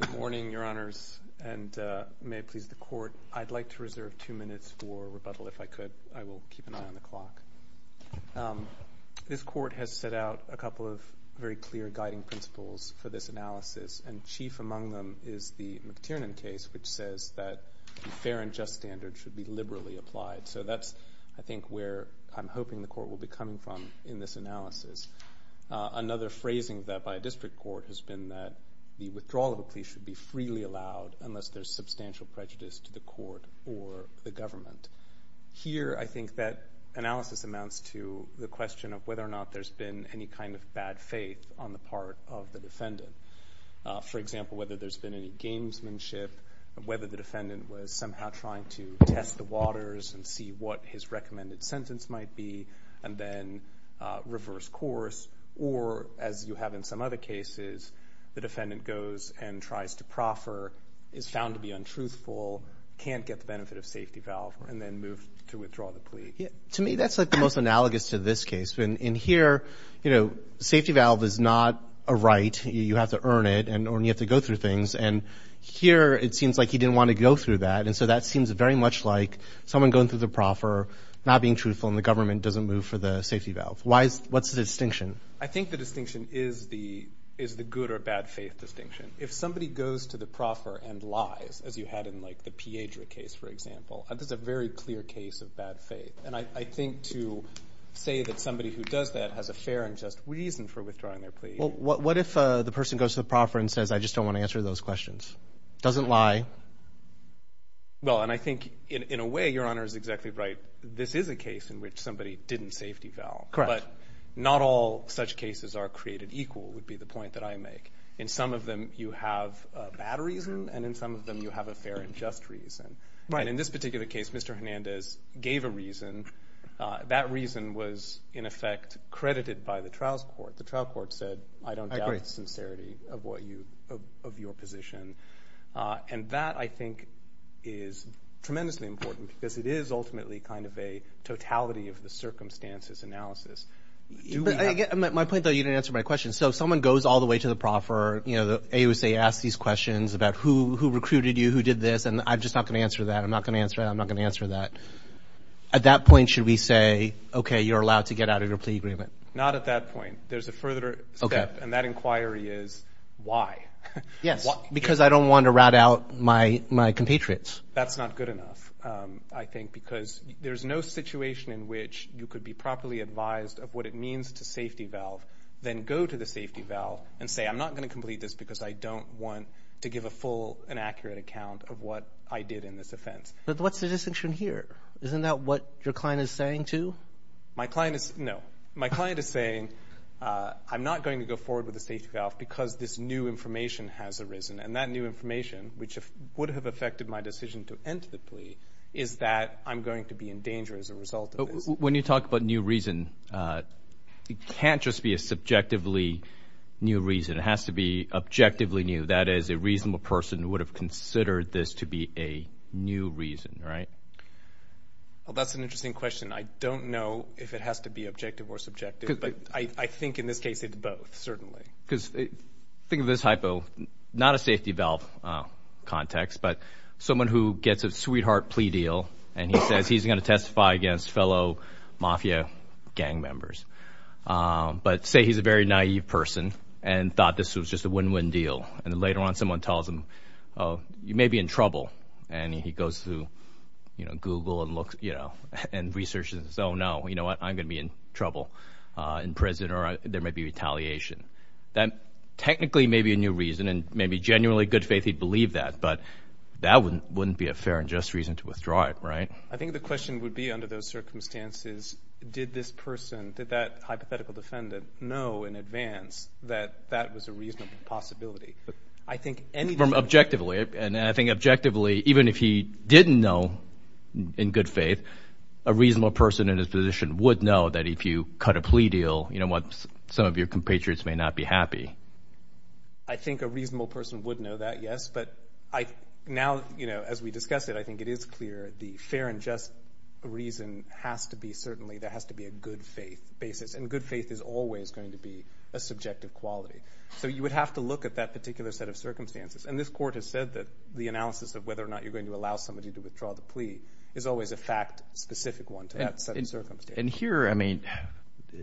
Good morning, Your Honors, and may it please the Court, I'd like to reserve two minutes for rebuttal if I could. I will keep an eye on the clock. This Court has set out a couple of very clear guiding principles for this analysis, and chief among them is the McTiernan case, which says that the fair and just standard should be liberally applied. So that's, I think, where I'm hoping the Court will be coming from in this analysis. Another phrasing that by a district court has been that the withdrawal of a plea should be freely allowed unless there's substantial prejudice to the Court or the government. Here, I think that analysis amounts to the question of whether or not there's been any kind of bad faith on the part of the defendant. For example, whether there's been any gamesmanship, whether the defendant was somehow trying to test the waters and see what his recommended sentence might be, and then reverse course, or as you have in some other cases, the defendant goes and tries to proffer, is found to be untruthful, can't get the benefit of safety valve, and then move to withdraw the plea. Yeah. To me, that's like the most analogous to this case. In here, you know, safety valve is not a right. You have to earn it, and you have to go through things. And here, it seems like he didn't want to go through that, and so that seems very much like someone going through the proffer, not being truthful, and the government doesn't move for the safety valve. Why is, what's the distinction? I think the distinction is the, is the good or bad faith distinction. If somebody goes to the proffer and lies, as you had in like the Piedra case, for example, that's a very clear case of bad faith. And I think to say that somebody who does that has a fair and just reason for withdrawing their plea. What if the person goes to the proffer and says, I just don't want to answer those questions? Doesn't lie. Well, and I think in a way, Your Honor is exactly right. This is a case in which somebody didn't safety valve. Correct. But not all such cases are created equal, would be the point that I make. In some of them, you have a bad reason, and in some of them, you have a fair and just reason. Right. And in this particular case, Mr. Hernandez gave a reason. That reason was, in effect, credited by the trials court. The trial court said, I don't doubt the sincerity of what And that, I think, is tremendously important because it is ultimately kind of a totality of the circumstances analysis. My point, though, you didn't answer my question. So if someone goes all the way to the proffer, you know, the AUSA asks these questions about who recruited you, who did this, and I'm just not going to answer that. I'm not going to answer that. I'm not going to answer that. At that point, should we say, okay, you're allowed to get out of your plea agreement? Not at that point. There's a further step, and that inquiry is why? Yes, because I don't want to rat out my compatriots. That's not good enough, I think, because there's no situation in which you could be properly advised of what it means to safety valve, then go to the safety valve and say, I'm not going to complete this because I don't want to give a full and accurate account of what I did in this offense. But what's the distinction here? Isn't that what your client is saying, too? My client is, no. My client is saying, I'm not going to go forward with the safety valve because this new information has arisen, and that new information, which would have affected my decision to end the plea, is that I'm going to be in danger as a result of this. When you talk about new reason, it can't just be a subjectively new reason. It has to be objectively new. That is, a reasonable person would have considered this to be a new reason, right? Well, that's an interesting question. I don't know if it has to be objective or subjective, but I think in this case, it's both, certainly. Think of this hypo, not a safety valve context, but someone who gets a sweetheart plea deal and he says he's going to testify against fellow Mafia gang members, but say he's a very naive person and thought this was just a win-win deal, and then later on, someone tells him, you may be in trouble, and he goes through Google and researches and says, oh no, you know what, I'm going to be in trouble, in prison, or there may be retaliation. That technically may be a new reason, and maybe genuinely, in good faith, he'd believe that, but that wouldn't be a fair and just reason to withdraw it, right? I think the question would be, under those circumstances, did this person, did that hypothetical defendant know in advance that that was a reasonable possibility? I think anything from objectively, and I think objectively, even if he didn't know, in good faith, a reasonable person in his position would know that if you cut a plea deal, some of your compatriots may not be happy. I think a reasonable person would know that, yes, but now, as we discussed it, I think it is clear the fair and just reason has to be, certainly, there has to be a good faith basis, and good faith is always going to be a subjective quality, so you would have to look at that particular set of circumstances, and this court has said that the analysis of whether or not you're going to allow somebody to withdraw the plea is always a fact-specific one to that set of circumstances. And here, I mean,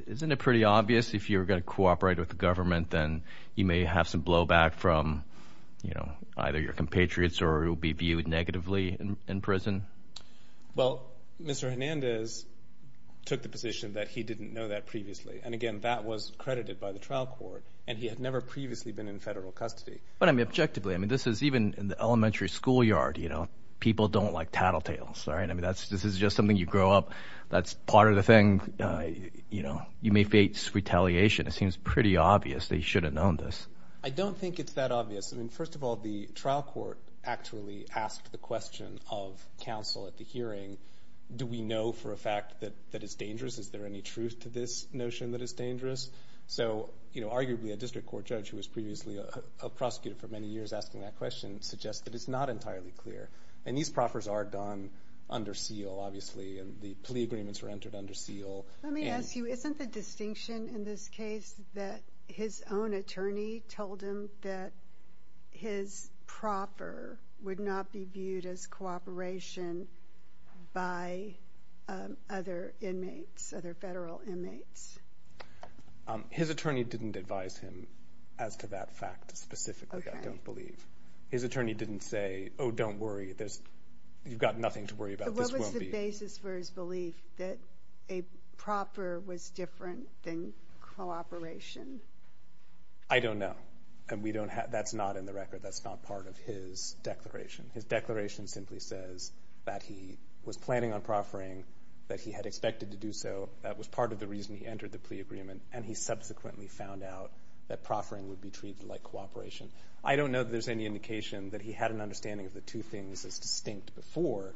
isn't it pretty obvious if you were going to cooperate with the government, then you may have some blowback from either your compatriots or it will be viewed negatively in prison? Well, Mr. Hernandez took the position that he didn't know that previously, and again, that was credited by the trial court, and he had never previously been in federal custody. But I mean, objectively, I mean, this is even in the elementary schoolyard, people don't like tattletales, right? I mean, this is just something you grow up, that's part of the thing, you know, you may face retaliation. It seems pretty obvious that he should have known this. I don't think it's that obvious. I mean, first of all, the trial court actually asked the question of counsel at the hearing, do we know for a fact that it's dangerous? Is there any truth to this notion that it's dangerous? So arguably, a district court judge who was previously a prosecutor for many years asking that question suggests that it's not entirely clear. And these proffers are done under seal, obviously, and the plea agreements were entered under seal. Let me ask you, isn't the distinction in this case that his own attorney told him that his proffer would not be viewed as cooperation by other inmates, other federal inmates? His attorney didn't advise him as to that fact specifically, I don't believe. His attorney didn't say, oh, don't worry, you've got nothing to worry about, this won't be. So what was the basis for his belief that a proffer was different than cooperation? I don't know, and that's not in the record, that's not part of his declaration. His declaration simply says that he was planning on proffering, that he had expected to do so, that was part of the reason he entered the plea agreement, and he subsequently found out that proffering would be treated like cooperation. I don't know that there's any indication that he had an understanding of the two things as distinct before,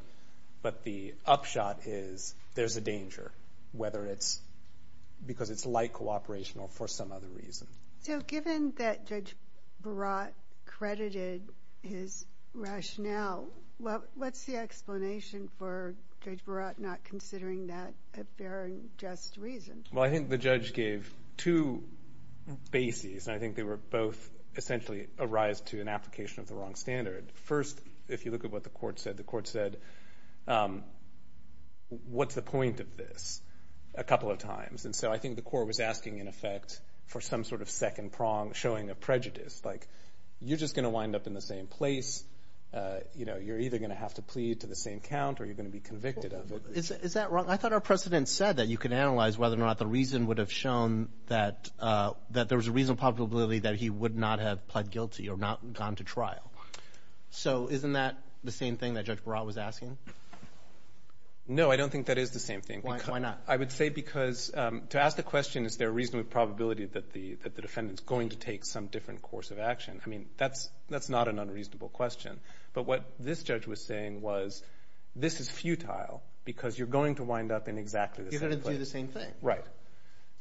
but the upshot is there's a danger, whether it's because it's like cooperation or for some other reason. So given that Judge Barat credited his rationale, what's the explanation for Judge Barat not considering that a fair and just reason? Well, I think the judge gave two bases, and I think they were both essentially a rise to an application of the wrong standard. First, if you look at what the court said, the court said, what's the point of this, a couple of times. And so I think the court was asking, in effect, for some sort of second prong, showing a prejudice, like you're just going to wind up in the same place, you know, you're either going to have to plead to the same count, or you're going to be convicted of it. Is that wrong? I thought our precedent said that you could analyze whether or not the reason would have shown that there was a reasonable probability that he would not have pled guilty or not gone to trial. So isn't that the same thing that Judge Barat was asking? No, I don't think that is the same thing. Why not? I would say because to ask the question, is there a reasonable probability that the defendant is going to take some different course of action? I mean, that's not an unreasonable question. But what this judge was saying was, this is futile, because you're going to wind up in exactly the same place. You're going to do the same thing. Right.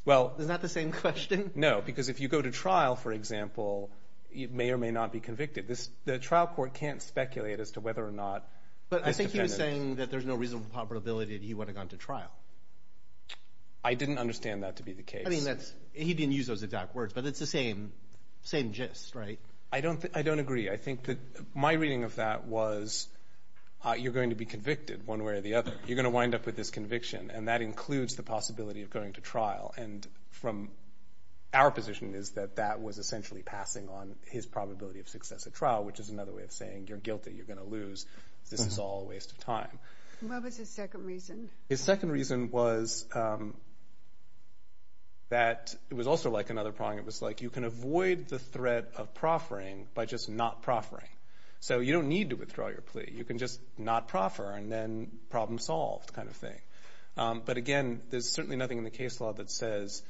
Well... Is that the same question? No, because if you go to trial, for example, you may or may not be convicted. The trial court can't speculate as to whether or not this defendant... But I think he was saying that there's no reasonable probability that he would have gone to trial. I didn't understand that to be the case. I mean, he didn't use those exact words, but it's the same gist, right? I don't agree. I think that my reading of that was, you're going to be convicted one way or the other. You're going to wind up with this conviction, and that includes the possibility of going to trial. And from our position is that that was essentially passing on his probability of success at trial, which is another way of saying, you're guilty, you're going to lose, this is all a waste of time. What was his second reason? His second reason was that it was also like another prong, it was like, you can avoid the threat of proffering by just not proffering. So you don't need to withdraw your plea, you can just not proffer and then problem solved kind of thing. But again, there's certainly nothing in the case law that says,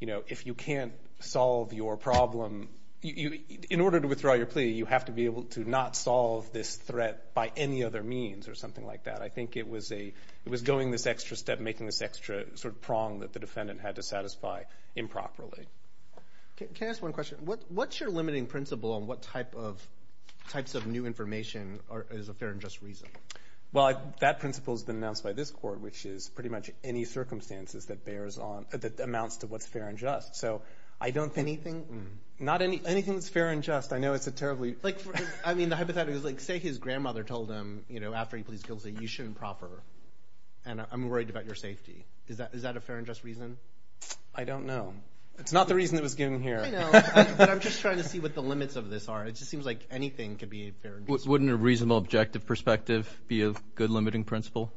if you can't solve your problem, in order to withdraw your plea, you have to be able to not solve this threat by any other means or something like that. I think it was going this extra step, making this extra prong that the defendant had to satisfy improperly. Can I ask one question? What's your limiting principle on what types of new information is a fair and just reason? Well, that principle has been announced by this court, which is pretty much any circumstances that bears on, that amounts to what's fair and just. So I don't think anything, not any, anything that's fair and just, I know it's a terribly, like, I mean, the hypothetical is like, say his grandmother told him, you know, after he please guilty, you shouldn't proffer, and I'm worried about your safety. Is that a fair and just reason? I don't know. It's not the reason that was given here. I know, but I'm just trying to see what the limits of this are. It just seems like anything could be a fair and just reason. Wouldn't a reasonable objective perspective be a good limiting principle?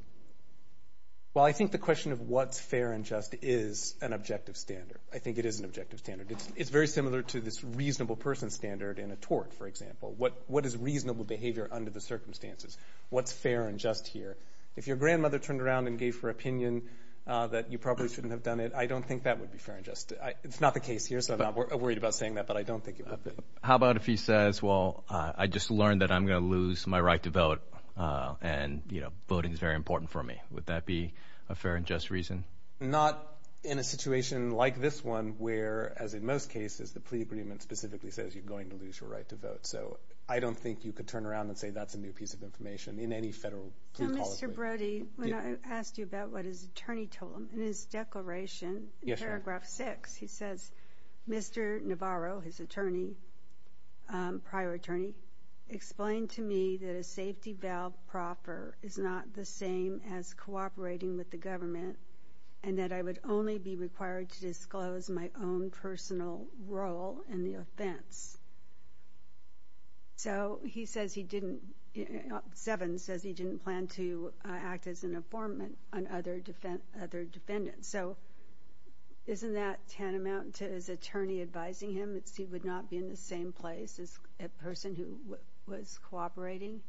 Well, I think the question of what's fair and just is an objective standard. I think it is an objective standard. It's very similar to this reasonable person standard in a tort, for example. What is reasonable behavior under the circumstances? What's fair and just here? If your grandmother turned around and gave her opinion that you probably shouldn't have a fair and just, it's not the case here, so I'm not worried about saying that, but I don't think you have to. How about if he says, well, I just learned that I'm going to lose my right to vote, and, you know, voting is very important for me. Would that be a fair and just reason? Not in a situation like this one, where, as in most cases, the plea agreement specifically says you're going to lose your right to vote. So I don't think you could turn around and say that's a new piece of information in any federal plea policy. Well, Mr. Brody, when I asked you about what his attorney told him, in his declaration in paragraph six, he says, Mr. Navarro, his attorney, prior attorney, explained to me that a safety valve propper is not the same as cooperating with the government and that I would only be required to disclose my own personal role in the offense. So, he says he didn't, seven says he didn't plan to act as an informant on other defendants. So, isn't that tantamount to his attorney advising him that he would not be in the same place as a person who was cooperating?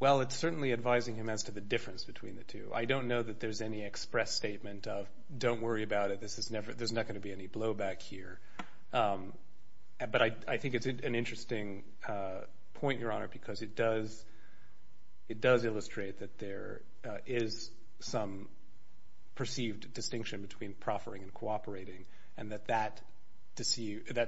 Well, it's certainly advising him as to the difference between the two. I don't know that there's any express statement of, don't worry about it, there's not going to be any blowback here. But I think it's an interesting point, Your Honor, because it does illustrate that there is some perceived distinction between proffering and cooperating and that that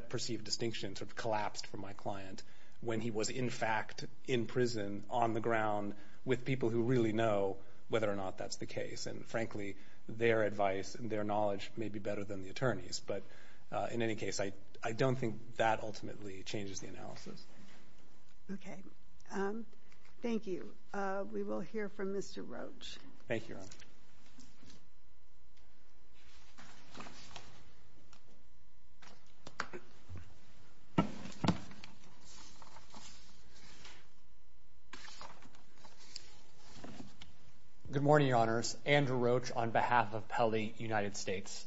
perceived distinction sort of collapsed for my client when he was, in fact, in prison on the ground with people who really know whether or not that's the case and, frankly, their advice and their expertise. But, in any case, I don't think that ultimately changes the analysis. Okay. Thank you. We will hear from Mr. Roach. Thank you, Your Honor. Good morning, Your Honors. Andrew Roach on behalf of Pelley United States.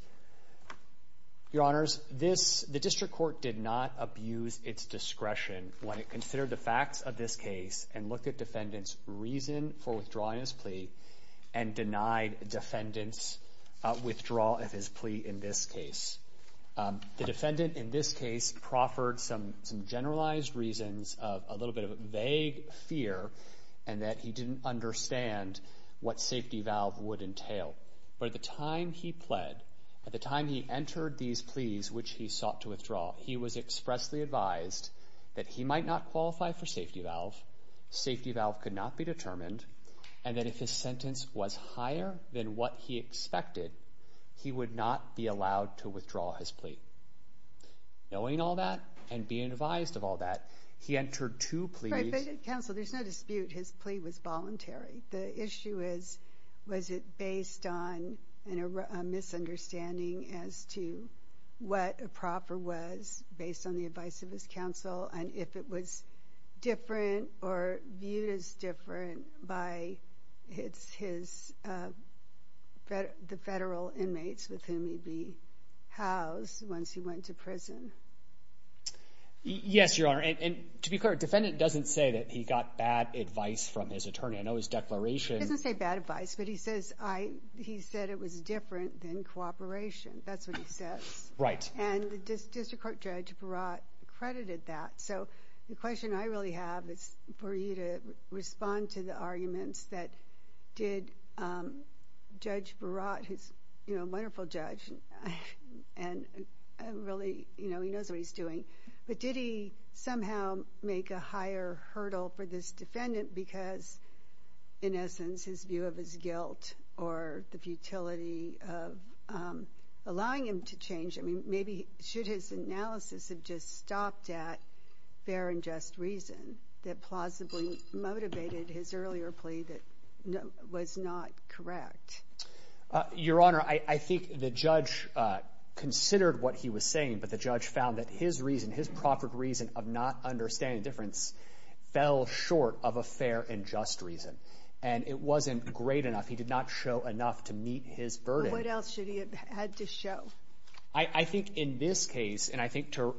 Your Honors, the District Court did not abuse its discretion when it considered the facts of this case and looked at defendant's reason for withdrawing his plea and denied defendant's withdrawal of his plea in this case. The defendant, in this case, proffered some generalized reasons of a little bit of vague fear and that he didn't understand what safety valve would entail. But at the time he pled, at the time he entered these pleas, which he sought to withdraw, he was expressly advised that he might not qualify for safety valve, safety valve could not be determined, and that if his sentence was higher than what he expected, he would not be allowed to withdraw his plea. Knowing all that and being advised of all that, he entered two pleas. Counsel, there's no dispute his plea was voluntary. The issue is, was it based on a misunderstanding as to what a proffer was based on the advice of his counsel and if it was different or viewed as different by his, the federal inmates with whom he'd be housed once he went to prison? Yes, Your Honor. And to be clear, defendant doesn't say that he got bad advice from his attorney. I know his declaration. He doesn't say bad advice, but he says I, he said it was different than cooperation. That's what he says. Right. And the District Court Judge Baratt credited that. So the question I really have is for you to respond to the arguments that did Judge Baratt, who's a wonderful judge and really, you know, he knows what he's doing, but did he somehow make a higher hurdle for this defendant because, in essence, his view of his guilt or the futility of allowing him to change? I mean, maybe should his analysis have just stopped at fair and just reason that plausibly motivated his earlier plea that was not correct? Your Honor, I think the judge considered what he was saying, but the judge found that his reason, his proper reason of not understanding the difference fell short of a fair and just reason. And it wasn't great enough. He did not show enough to meet his burden. Well, what else should he have had to show? I think in this case, and I think to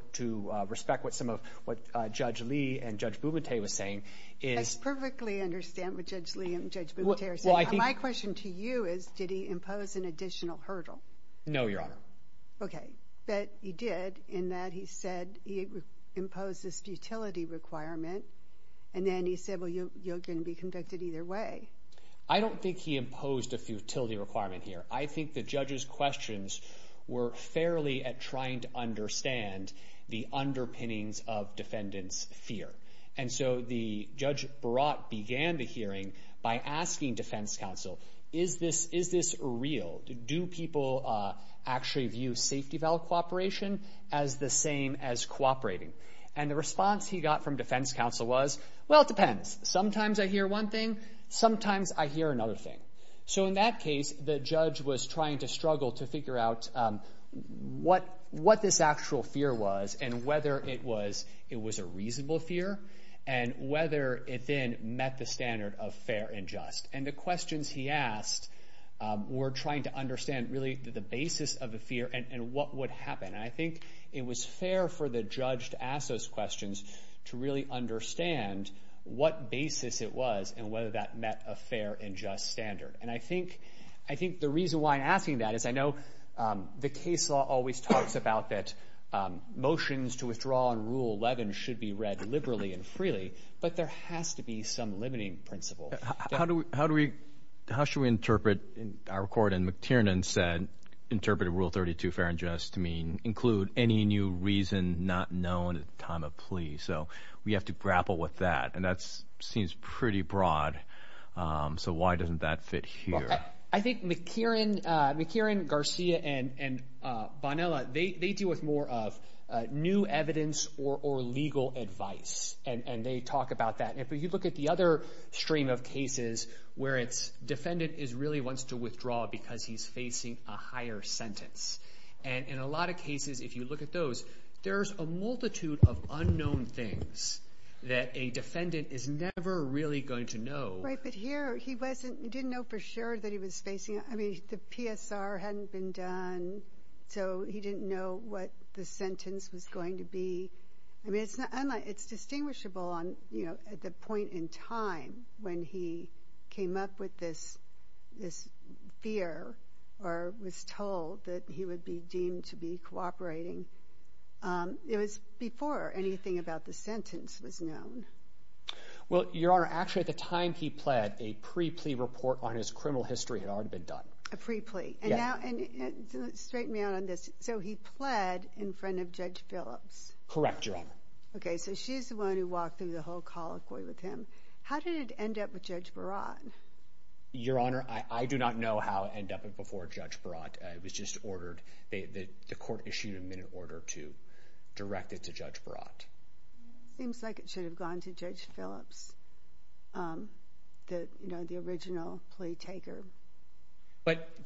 respect what some of, what Judge Lee and Judge Bumate was saying is... I perfectly understand what Judge Lee and Judge Bumate are saying. Well, I think... My question to you is did he impose an additional hurdle? No, Your Honor. Okay. But he did in that he said he imposed this futility requirement, and then he said, well, you're going to be convicted either way. I don't think he imposed a futility requirement here. I think the judge's questions were fairly at trying to understand the underpinnings of defendant's fear. And so the judge brought, began the hearing by asking defense counsel, is this real? Do people actually view safety valve cooperation as the same as cooperating? And the response he got from defense counsel was, well, it depends. Sometimes I hear one thing. Sometimes I hear another thing. So in that case, the judge was trying to struggle to figure out what this actual fear was and whether it was a reasonable fear and whether it then met the standard of fair and just. And the questions he asked were trying to understand really the basis of the fear and what would happen. And I think it was fair for the judge to ask those questions to really understand what basis it was and whether that met a fair and just standard. And I think the reason why I'm asking that is I know the case law always talks about that motions to withdraw on Rule 11 should be read liberally and freely, but there has to be some limiting principle. How do we, how should we interpret our court? And McTiernan said interpret a Rule 32 fair and just to include any new reason not known at the time of plea. So we have to grapple with that. And that seems pretty broad. So why doesn't that fit here? I think McTiernan, Garcia, and Bonilla, they deal with more of new evidence or legal advice. And they talk about that. And if you look at the other stream of cases where it's defendant really wants to withdraw because he's facing a higher sentence. And in a lot of cases, if you look at those, there's a multitude of unknown things that a defendant is never really going to know. Right, but here he didn't know for sure that he was facing, I mean, the PSR hadn't been done, so he didn't know what the sentence was going to be. I mean, it's not unlike, it's distinguishable on, you know, at the point in time when he came up with this fear or was told that he would be deemed to be cooperating. It was before anything about the sentence was known. Well, Your Honor, actually at the time he pled, a pre-plea report on his criminal history had already been done. A pre-plea. Yeah. And now, and straighten me out on this. So he pled in front of Judge Phillips? Correct, Your Honor. Okay, so she's the one who walked through the whole colloquy with him. How did it end up with Judge Baratt? Your Honor, I do not know how it ended up before Judge Baratt. It was just ordered, the court issued a minute order to direct it to Judge Baratt. Seems like it should have gone to Judge Phillips, you know, the original plea taker. But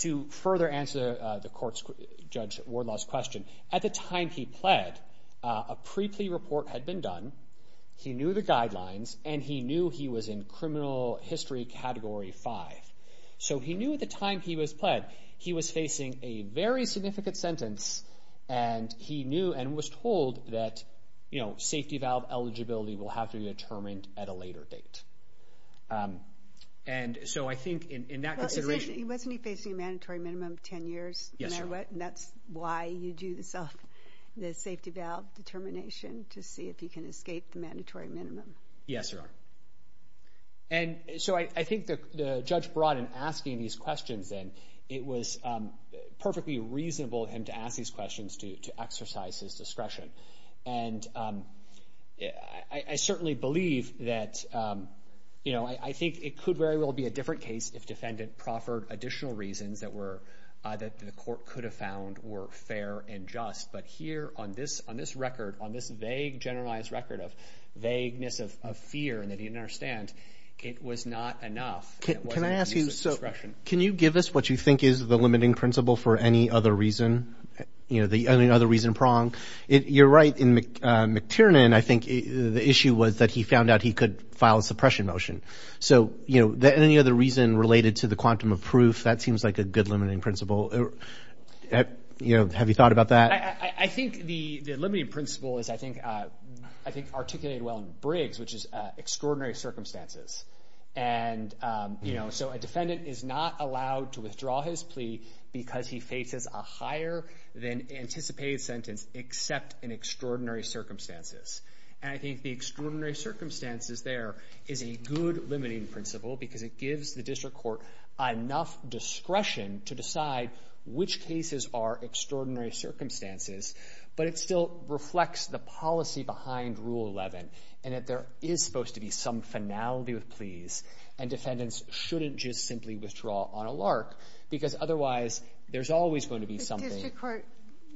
to further answer the court's, Judge Wardlaw's question, at the time he pled, a pre-plea report had been done, he knew the guidelines, and he knew he was in criminal history category five. So, he knew at the time he was pled, he was facing a very significant sentence, and he knew and was told that, you know, safety valve eligibility will have to be determined at a later date. And so I think in that consideration... Wasn't he facing a mandatory minimum of ten years? Yes, Your Honor. And that's why you do the safety valve determination to see if he can escape the mandatory minimum. Yes, Your Honor. And so I think the Judge Baratt in asking these questions then, it was perfectly reasonable for him to ask these questions to exercise his discretion. And I certainly believe that, you know, I think it could very well be a different case if defendant proffered additional reasons that were, that the court could have found were fair and just. But here on this record, on this vague generalized record of vagueness of fear that he didn't understand, it was not enough. Can I ask you... It wasn't his discretion. Can you give us what you think is the limiting principle for any other reason, you know, any other reason pronged? You're right. In McTiernan, I think the issue was that he found out he could file a suppression motion. So, you know, any other reason related to the quantum of proof? That seems like a good limiting principle. You know, have you thought about that? I think the limiting principle is, I think, articulated well in Briggs, which is extraordinary circumstances. And, you know, so a defendant is not allowed to withdraw his plea because he faces a higher than anticipated sentence except in extraordinary circumstances. And I think the extraordinary circumstances there is a good limiting principle because it gives the district court enough discretion to decide which cases are extraordinary circumstances. But it still reflects the policy behind Rule 11, and that there is supposed to be some finality with pleas. And defendants shouldn't just simply withdraw on a lark, because otherwise there's always going to be something. The district court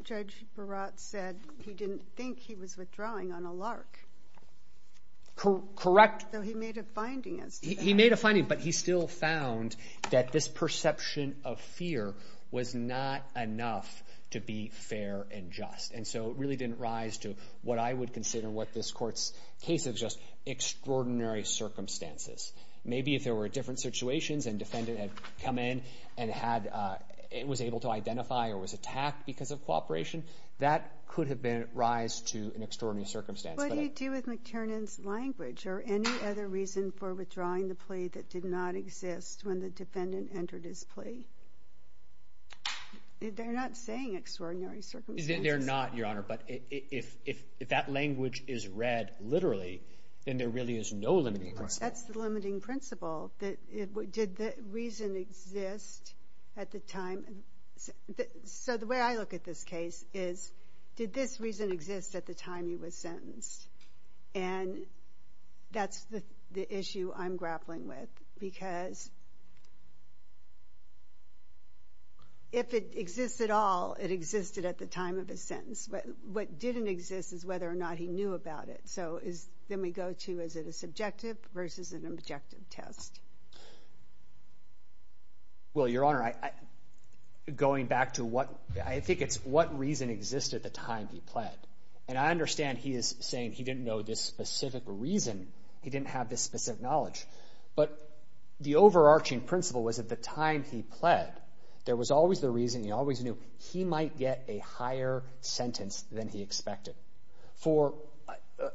judge Barat said he didn't think he was withdrawing on a lark. Correct. So he made a finding as to that. He made a finding, but he still found that this perception of fear was not enough to be fair and just. And so it really didn't rise to what I would consider what this court's case is, just extraordinary circumstances. Maybe if there were different situations and defendant had come in and was able to identify or was attacked because of cooperation, that could have been a rise to an extraordinary circumstance. What do you do with McTernan's language or any other reason for withdrawing the plea that did not exist when the defendant entered his plea? They're not saying extraordinary circumstances. They're not, Your Honor, but if that language is read literally, then there really is no limiting principle. That's the limiting principle. Did the reason exist at the time? So the way I look at this case is, did this reason exist at the time he was sentenced? And that's the issue I'm grappling with because if it exists at all, it existed at the time of his sentence. What didn't exist is whether or not he knew about it. So then we go to, is it a subjective versus an objective test? Well, Your Honor, going back to what, I think it's what reason existed at the time he pled. And I understand he is saying he didn't know this specific reason. He didn't have this specific knowledge. But the overarching principle was at the time he pled, there was always the reason, he always knew, he might get a higher sentence than he expected. For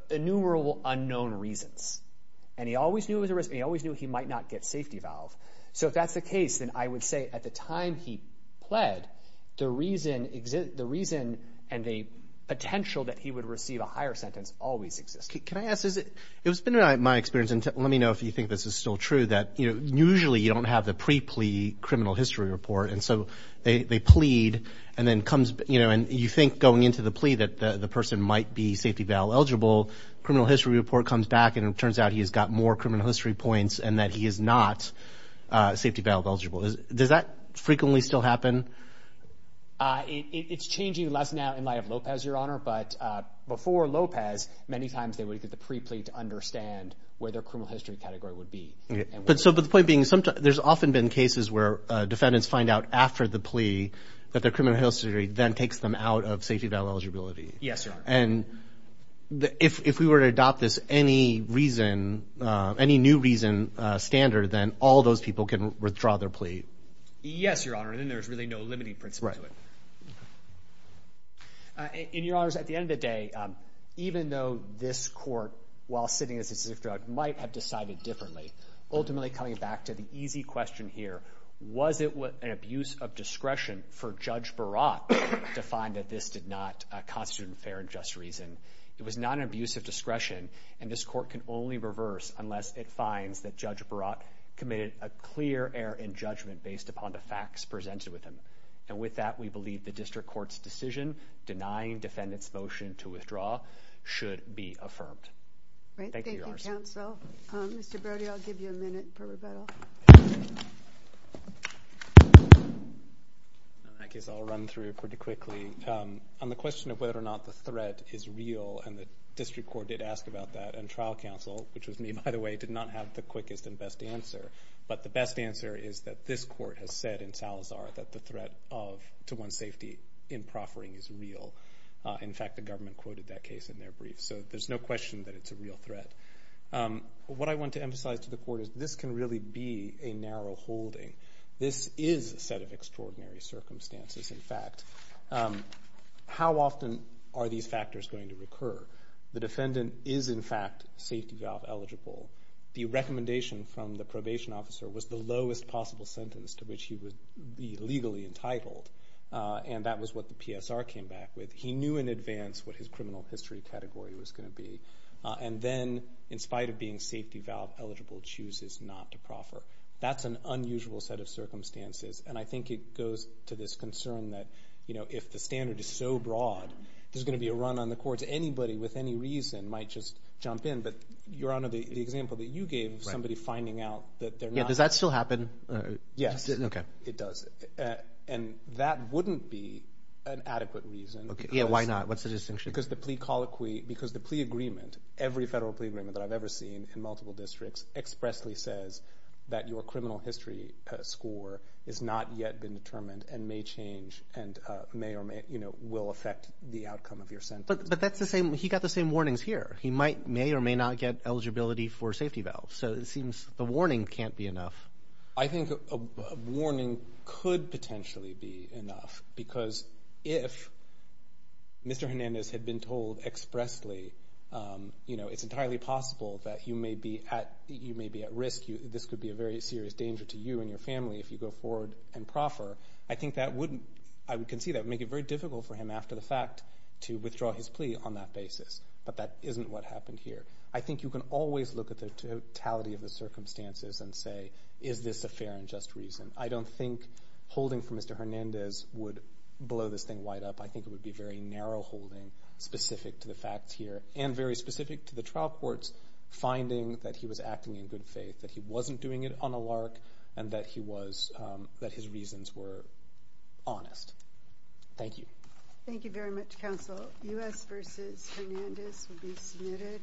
innumerable unknown reasons. And he always knew he might not get safety valve. So if that's the case, then I would say at the time he pled, the reason and the potential that he would receive a higher sentence always existed. Can I ask, it's been my experience, and let me know if you think this is still true, that usually you don't have the pre-plea criminal history report. And so they plead and then comes, you know, and you think going into the plea that the person might be safety valve eligible, criminal history report comes back and it turns out he's got more criminal history points and that he is not safety valve eligible. Does that frequently still happen? It's changing less now in light of Lopez, Your Honor, but before Lopez, many times they would get the pre-plea to understand where their criminal history category would be. But the point being, there's often been cases where defendants find out after the plea that their criminal history then takes them out of safety valve eligibility. Yes, Your Honor. And if we were to adopt this any reason, any new reason standard, then all those people can withdraw their plea. Yes, Your Honor. And then there's really no limiting principle to it. Right. And Your Honors, at the end of the day, even though this court, while sitting this drug, might have decided differently, ultimately coming back to the easy question here, was it an abuse of discretion for Judge Barat to find that this did not constitute an unfair and just reason? It was not an abuse of discretion and this court can only reverse unless it finds that Judge Barat committed a clear error in judgment based upon the facts presented with him. And with that, we believe the district court's decision denying defendants' motion to withdraw should be affirmed. Thank you, Your Honor. Thank you, counsel. Mr. Brody, I'll give you a minute for rebuttal. I guess I'll run through it pretty quickly. On the question of whether or not the threat is real, and the district court did ask about that, and trial counsel, which was me by the way, did not have the quickest and best answer. But the best answer is that this court has said in Salazar that the threat to one's safety in proffering is real. In fact, the government quoted that case in their brief. So there's no question that it's a real threat. What I want to emphasize to the court is this can really be a narrow holding. This is a set of extraordinary circumstances. In fact, how often are these factors going to recur? The defendant is in fact safety valve eligible. The recommendation from the probation officer was the lowest possible sentence to which he would be legally entitled. And that was what the PSR came back with. He knew in advance what his criminal history category was going to be. And then in spite of being safety valve eligible, chooses not to proffer. That's an unusual set of circumstances. And I think it goes to this concern that if the standard is so broad, there's going to be a run on the courts. Anybody with any reason might just jump in. But Your Honor, the example that you gave of somebody finding out that they're not. Yeah, does that still happen? Yes. Okay. It does. And that wouldn't be an adequate reason. Yeah, why not? What's the distinction? Because the plea agreement, every federal plea agreement that I've ever seen in multiple districts, expressly says that your criminal history score has not yet been determined and may change and may or may, you know, will affect the outcome of your sentence. But that's the same. He got the same warnings here. He may or may not get eligibility for safety valve. So it seems the warning can't be enough. I think a warning could potentially be enough because if Mr. Hernandez had been told expressly, you know, it's entirely possible that you may be at risk. This could be a very serious danger to you and your family if you go forward and proffer. I think that wouldn't, I would concede that would make it very difficult for him after the fact to withdraw his plea on that basis. But that isn't what happened here. I think you can always look at the totality of the circumstances and say, is this a fair and just reason? I don't think holding for Mr. Hernandez would blow this thing wide up. I think it would be very narrow holding specific to the facts here and very specific to the trial courts, finding that he was acting in good faith, that he wasn't doing it on a lark, and that he was, that his reasons were honest. Thank you. Thank you very much, counsel. U.S. v. Hernandez will be submitted.